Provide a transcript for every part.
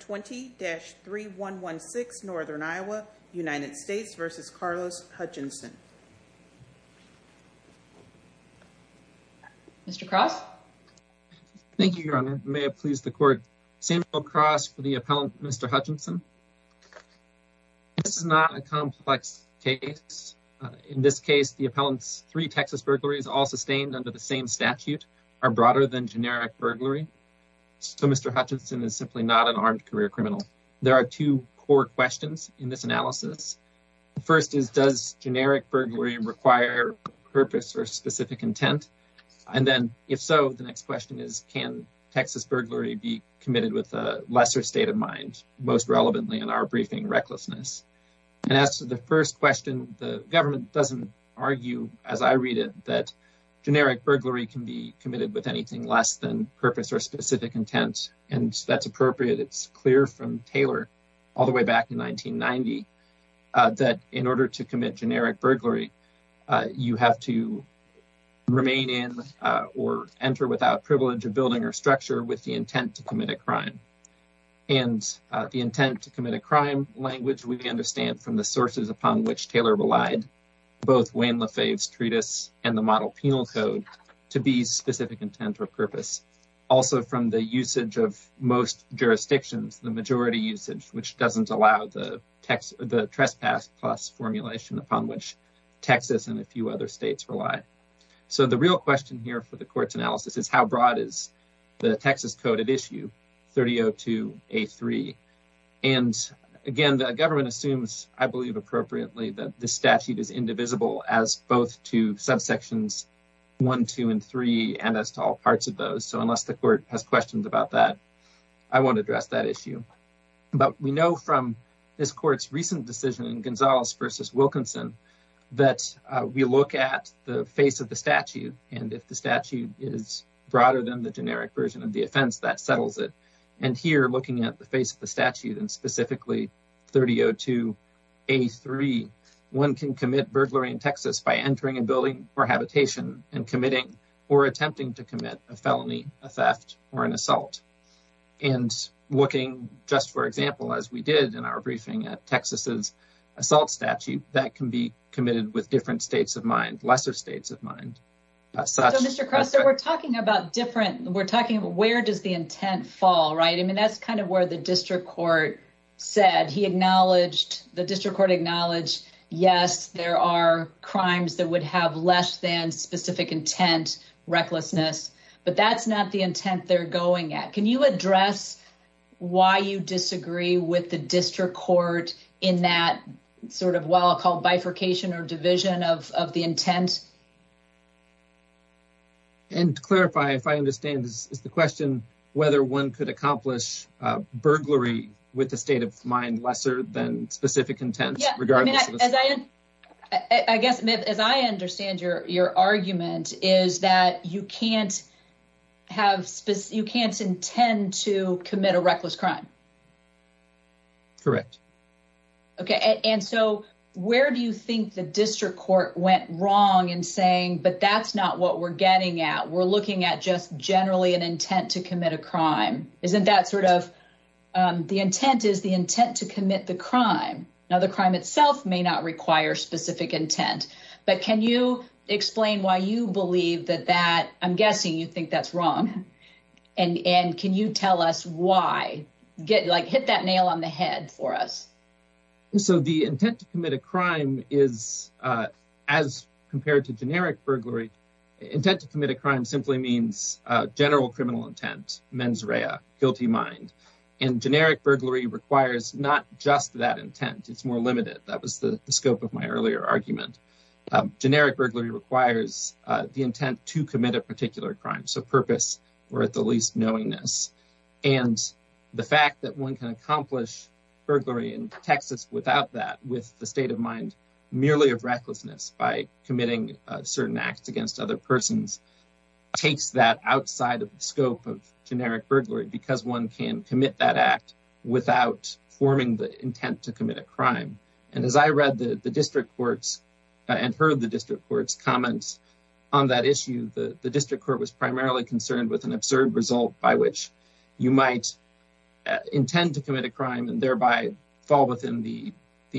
20-3116 Northern Iowa United States v. Carlos Hutchinson Mr. Cross? Thank you, Your Honor. May it please the court. Samuel Cross for the appellant, Mr. Hutchinson. This is not a complex case. In this case, the appellant's three Texas burglaries all sustained under the same statute are broader than generic burglary. So Mr. Hutchinson is simply not an armed career criminal. There are two core questions in this analysis. The first is, does generic burglary require purpose or specific intent? And then, if so, the next question is, can Texas burglary be committed with a lesser state of mind, most relevantly in our briefing, recklessness? And as to the first question, the government doesn't argue, as I read it, that generic burglary can be committed with anything less than purpose or appropriate. It's clear from Taylor all the way back in 1990 that in order to commit generic burglary, you have to remain in or enter without privilege of building or structure with the intent to commit a crime. And the intent to commit a crime language we understand from the sources upon which Taylor relied, both Wayne LaFave's treatise and the model penal code, to be specific intent or purpose. Also, from the usage of most jurisdictions, the majority usage, which doesn't allow the trespass plus formulation upon which Texas and a few other states rely. So the real question here for the court's analysis is, how broad is the Texas code at issue, 3002A3? And again, the government assumes, I believe appropriately, that the statute is indivisible as both to subsections 1, 2, and 3, and as to all parts of those. So unless the court has questions about that, I won't address that issue. But we know from this court's recent decision in Gonzalez versus Wilkinson that we look at the face of the statute, and if the statute is broader than the generic version of the offense, that settles it. And here, looking at the face of the statute and by entering and building or habitation and committing or attempting to commit a felony, a theft, or an assault. And looking, just for example, as we did in our briefing at Texas's assault statute, that can be committed with different states of mind, lesser states of mind. So Mr. Crosser, we're talking about different, we're talking about where does the intent fall, right? I mean, that's kind of where the district court said, he acknowledged, the district court acknowledged, yes, there are crimes that would have less than specific intent, recklessness, but that's not the intent they're going at. Can you address why you disagree with the district court in that sort of what I'll call bifurcation or division of the intent? And to clarify, if I understand, is the question whether one could accomplish burglary with the state of mind lesser than specific intent? I guess, as I understand your argument, is that you can't intend to commit a reckless crime? Correct. Okay. And so where do you think the district court went wrong in saying, but that's not what we're getting at. We're looking at just generally an intent to commit a crime. Isn't that sort of, the intent is the intent to commit the crime. Now the crime itself may not require specific intent, but can you explain why you believe that that, I'm guessing you think that's wrong. And can you tell us why, like hit that nail on the head for us? So the intent to commit a crime is, as compared to generic burglary, intent to commit a crime simply means general criminal intent, mens rea, guilty mind. And generic burglary requires not just that intent. It's more limited. That was the scope of my earlier argument. Generic burglary requires the intent to commit a particular crime. So purpose or at the least knowingness. And the fact that one can accomplish burglary in Texas without that, with the state of mind, merely of recklessness by committing certain acts against other persons, takes that outside of the scope of generic burglary because one can commit that act without forming the intent to commit a crime. And as I read the district courts and heard the district courts comments on that issue, the district court was primarily concerned with an absurd result by which you might intend to commit a crime and thereby fall within the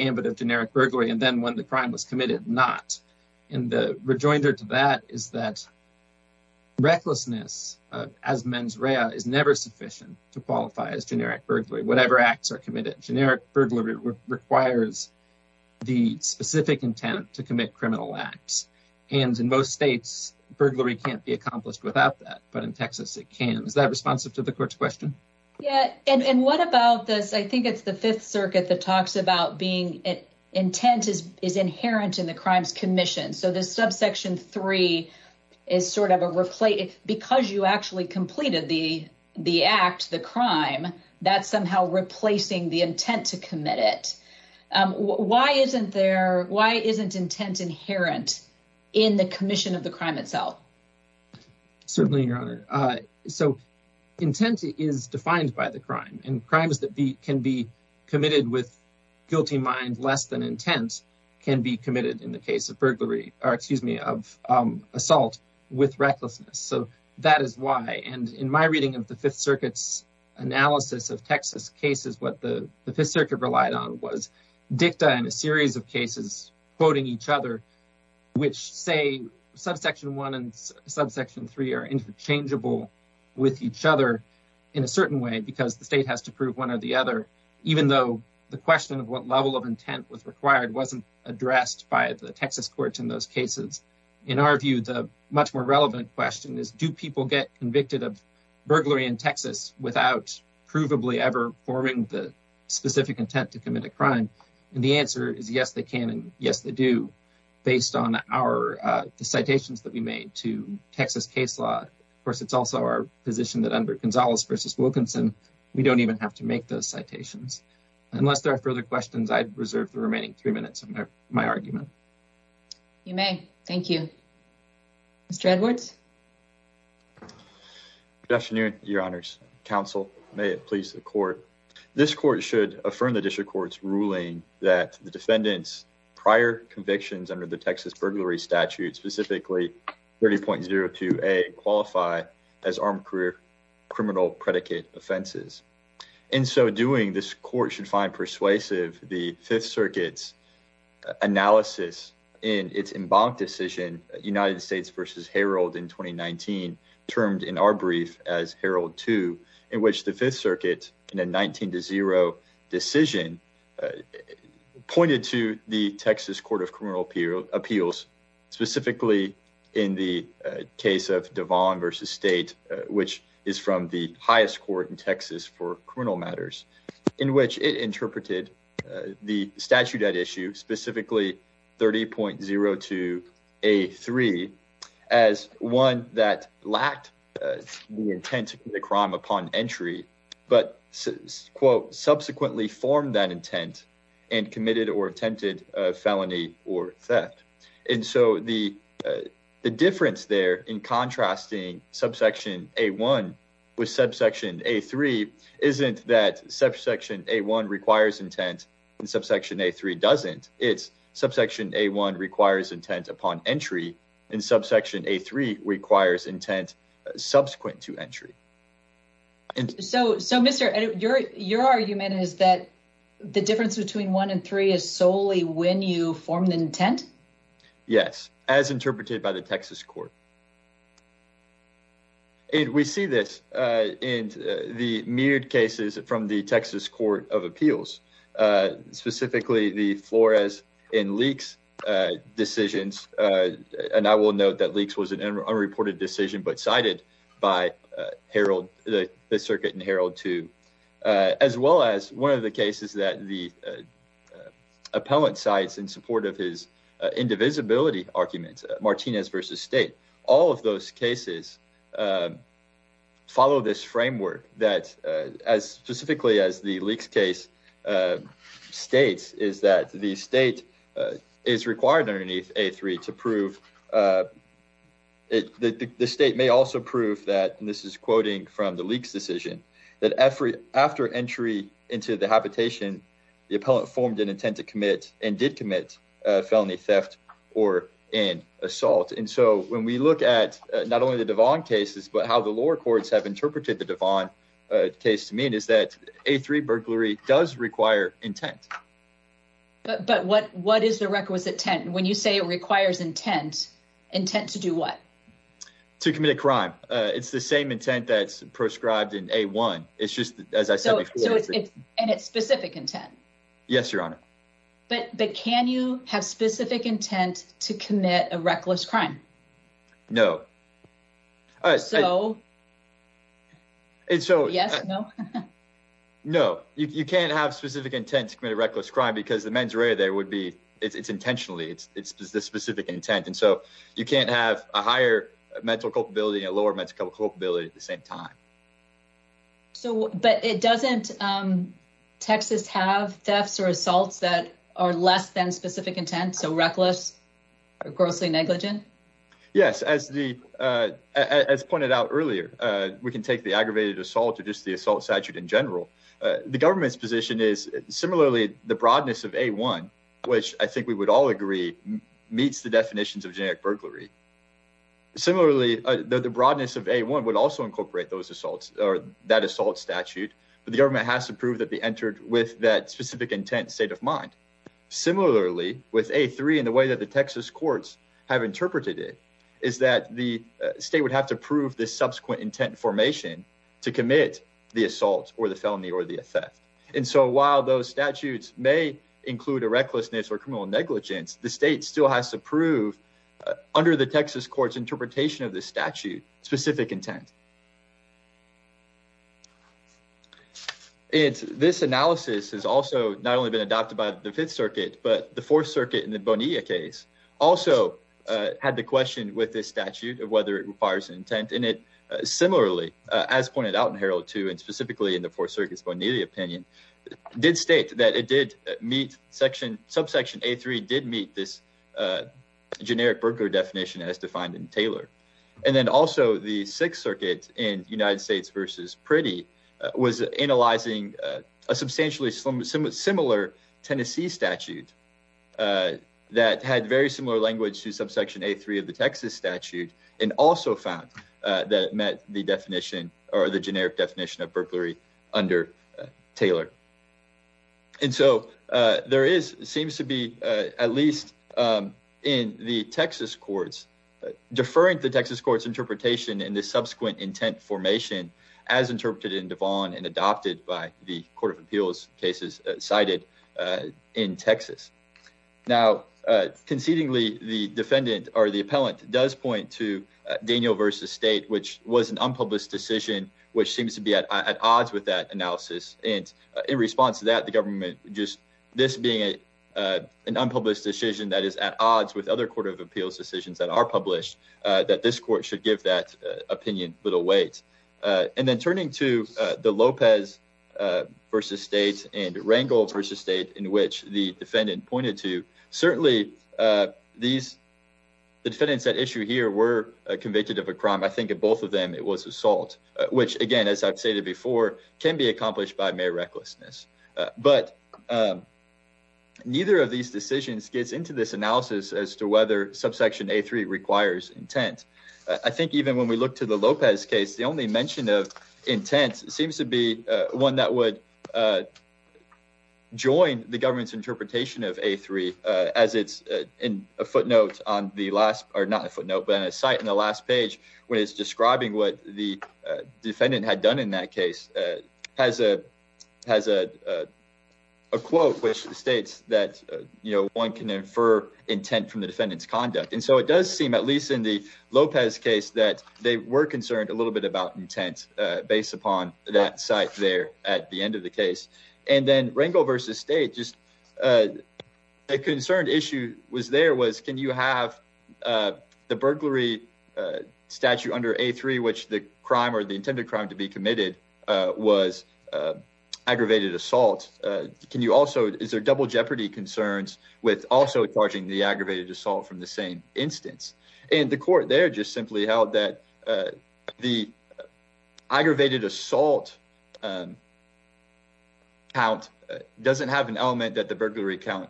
ambit of generic burglary. And then when the crime was committed, not. And the rejoinder to that is that recklessness, as mens rea, is never sufficient to qualify as generic burglary. Whatever acts are committed, generic burglary requires the specific intent to commit criminal acts. And in most states, burglary can't be accomplished without that. But in Texas, it can. Is that responsive to the court's question? Yeah. And what about this? I think it's the Fifth Circuit that talks about being it intent is inherent in the crimes commission. So this subsection three is sort of a replay because you actually completed the the act, the crime that somehow replacing the intent to commit it. Why isn't there? Why isn't intent inherent in the commission of the crime itself? Certainly, your honor. So intent is defined by the crime and crimes that can be committed with guilty mind less than intent can be committed in the case of burglary or excuse me, of assault with recklessness. So that is why. And in my reading of the Fifth Circuit's analysis of Texas cases, what the Fifth Circuit relied on was dicta and a series of cases quoting each other, which say subsection one and subsection three are interchangeable with each other in a certain way because the state has to prove one or the other, even though the question of what level of intent was required wasn't addressed by the Texas courts in those cases. In our view, the much more relevant question is, do people get convicted of burglary in Texas without provably ever forming the specific intent to commit a crime? And the answer is yes, they can. And yes, they do, based on our citations that we made to Texas case law. Of course, it's also our position that under Gonzalez versus Wilkinson, we don't even have to make those citations unless there are further questions. I'd reserve the remaining three minutes of my argument. You may. Thank you. Mr. Edwards. Good afternoon, Your Honors. Counsel, may it please the court. This court should affirm the district court's ruling that the defendant's prior convictions under the Texas burglary statute, specifically 30.02a, qualify as armed career criminal predicate offenses. In so doing, this court should find persuasive the Fifth Circuit's analysis in its embanked decision United States versus Herald in 2019, termed in our brief as Herald 2, in which the Fifth Circuit in a 19 to 0 decision pointed to the Texas Court of Criminal Appeals, specifically in the case of Devon versus State, which is from the highest court in Texas for criminal matters, in which it interpreted the statute at issue, specifically 30.02a3, as one that lacked the intent to commit a crime upon entry, but quote, subsequently formed that intent and committed or attempted a felony or theft. And so the difference there in contrasting subsection a1 with subsection a3 isn't that subsection a1 requires intent and subsection a3 doesn't. It's subsection a1 requires intent upon entry and subsection a3 requires intent subsequent to entry. So Mr. Edwards, your argument is that the difference between 1 and 3 is solely when you form the intent? Yes, as interpreted by the Texas Court. And we see this in the myriad cases from the Texas Court of Appeals, specifically the Flores and Leakes decisions, and I will note that Leakes was an unreported decision but cited by the circuit in Herald 2, as well as one of the cases that the indivisibility arguments, Martinez v. State, all of those cases follow this framework that as specifically as the Leakes case states, is that the state is required underneath a3 to prove it. The state may also prove that, and this is quoting from the Leakes decision, that after entry into the habitation, the appellant formed an intent to commit and did commit felony theft or an assault. And so when we look at not only the Devon cases, but how the lower courts have interpreted the Devon case to mean is that a3 burglary does require intent. But what is the requisite intent? When you say it requires intent, intent to do what? To commit a crime. It's the same intent that's prescribed in a1, as I said before. And it's specific intent? Yes, Your Honor. But can you have specific intent to commit a reckless crime? No. No, you can't have specific intent to commit a reckless crime because the mens rea there would be, it's intentionally, it's the specific intent. And so you can't have a higher mental culpability and a lower mental culpability at the same time. So, but it doesn't, Texas have thefts or assaults that are less than specific intent. So reckless, or grossly negligent. Yes. As the, as pointed out earlier, we can take the aggravated assault or just the assault statute in general. The government's position is similarly the broadness of a1, which I think we would all agree meets the definitions of generic burglary. Similarly, the broadness of a1 would also incorporate those assaults or that assault statute, but the government has to prove that they entered with that specific intent state of mind. Similarly, with a3 and the way that the Texas courts have interpreted it is that the state would have to prove this subsequent intent formation to commit the assault or the felony or the theft. And so while those statutes may include a recklessness or criminal negligence, the state still has to prove under the Texas court's interpretation of the statute specific intent. It's this analysis has also not only been adopted by the fifth circuit, but the fourth circuit in the Bonilla case also had the question with this statute of whether it requires an intent in it. Similarly, as pointed out in Herald 2 and specifically in the fourth circuit's Bonilla opinion did state that it did meet section subsection a3 did meet this generic burglary definition as defined in Taylor. And then also the sixth circuit in United States versus Priddy was analyzing a substantially similar Tennessee statute that had very similar language to subsection a3 of the Texas statute and also found that it met the definition or the generic definition of burglary under Taylor. And so there is seems to be at least in the Texas courts deferring to the Texas court's interpretation in this subsequent intent formation as interpreted in Devon and adopted by the court of appeals cases cited in Texas. Now concedingly the defendant or appellant does point to Daniel versus state which was an unpublished decision which seems to be at odds with that analysis. And in response to that the government just this being an unpublished decision that is at odds with other court of appeals decisions that are published that this court should give that opinion little weight. And then turning to the Lopez versus state and the defendant pointed to certainly these the defendants at issue here were convicted of a crime. I think of both of them it was assault which again as I've stated before can be accomplished by mere recklessness. But neither of these decisions gets into this analysis as to whether subsection a3 requires intent. I think even when we look to the Lopez case the only mention of intent seems to one that would join the government's interpretation of a3 as it's in a footnote on the last or not a footnote but on a site in the last page when it's describing what the defendant had done in that case has a has a quote which states that you know one can infer intent from the defendant's conduct. And so it does seem at least in the Lopez case that they were concerned a little bit about intent based upon that site there at the end of the case. And then Rangel versus state just a concerned issue was there was can you have the burglary statute under a3 which the crime or the intended crime to be committed was aggravated assault. Can you also is there double jeopardy concerns with also charging the aggravated assault from the same instance. And the court there just aggravated assault count doesn't have an element that the burglary count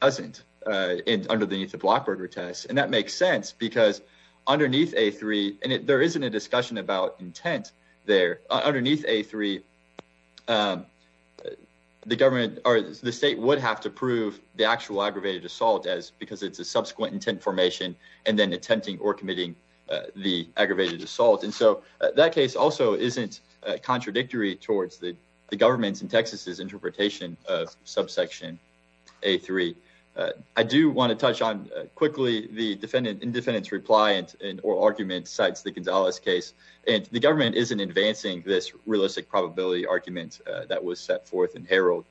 doesn't underneath the block burger test. And that makes sense because underneath a3 and there isn't a discussion about intent there. Underneath a3 the government or the state would have to prove the actual aggravated assault as because it's a subsequent intent formation and then attempting or committing the aggravated assault. And so that case also isn't contradictory towards the government's in Texas's interpretation of subsection a3. I do want to touch on quickly the defendant in defendant's reply and or argument cites the Gonzalez case and the government isn't advancing this realistic probability argument that was set forth in Herald.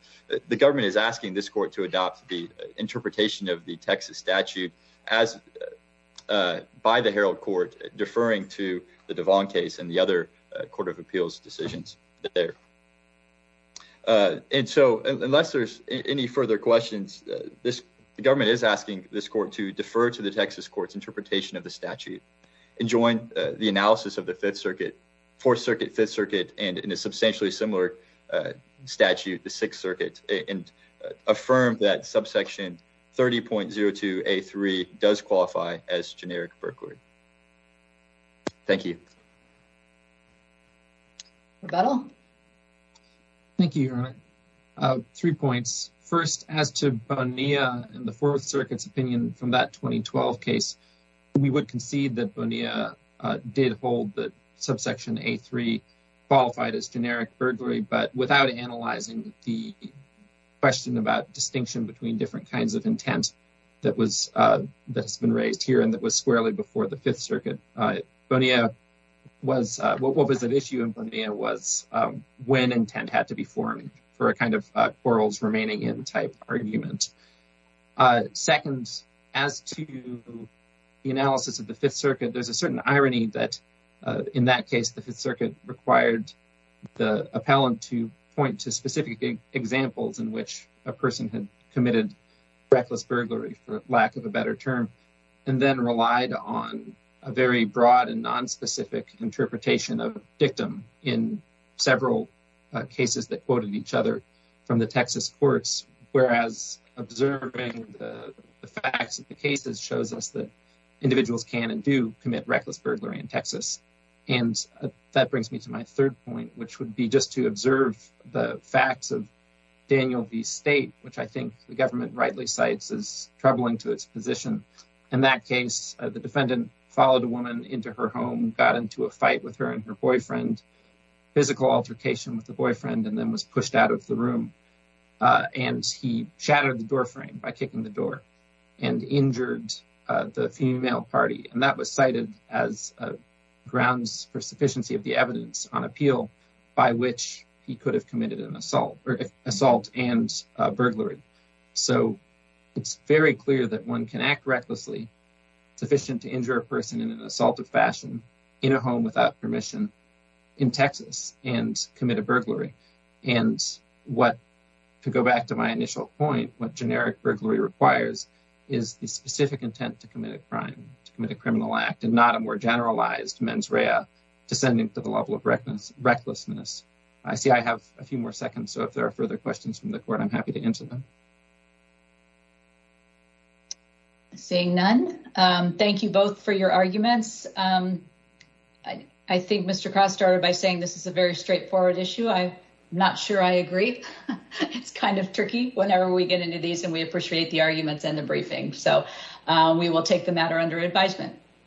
The government is asking this court to adopt the interpretation of the Texas statute as by the Herald court deferring to the Devon case and the other court of appeals decisions there. And so unless there's any further questions this government is asking this court to defer to the Texas courts interpretation of the statute and join the analysis of the fifth circuit fourth circuit fifth circuit and in a affirm that subsection 30.02 a3 does qualify as generic burglary. Thank you. Rebettal. Thank you. Three points. First as to Bonilla and the fourth circuit's opinion from that 2012 case we would concede that Bonilla did hold that subsection a3 qualified as generic about distinction between different kinds of intent that was that's been raised here and that was squarely before the fifth circuit. Bonilla was what was at issue in Bonilla was when intent had to be formed for a kind of quarrels remaining in type argument. Second as to the analysis of the fifth circuit there's a certain irony that in that case the examples in which a person had committed reckless burglary for lack of a better term and then relied on a very broad and nonspecific interpretation of victim in several cases that quoted each other from the Texas courts whereas observing the facts of the cases shows us that individuals can and do commit reckless burglary in Texas. And that brings me to my third point which would be just to observe the facts of Daniel v. State which I think the government rightly cites as troubling to its position. In that case the defendant followed a woman into her home got into a fight with her and her boyfriend physical altercation with the boyfriend and then was pushed out of the room and he shattered the doorframe by kicking the door and injured the female party and that was cited as a grounds for sufficiency of the evidence on by which he could have committed an assault or assault and burglary. So it's very clear that one can act recklessly sufficient to injure a person in an assaultive fashion in a home without permission in Texas and commit a burglary and what to go back to my initial point what generic burglary requires is the specific intent to commit a crime to commit a criminal act and not a more generalized mens rea descending to the level of recklessness. I see I have a few more seconds so if there are further questions from the court I'm happy to answer them. Seeing none, thank you both for your arguments. I think Mr. Cross started by saying this is a very straightforward issue. I'm not sure I agree it's kind of tricky whenever we get into these and we appreciate the arguments and the briefing so we will take the matter under advisement.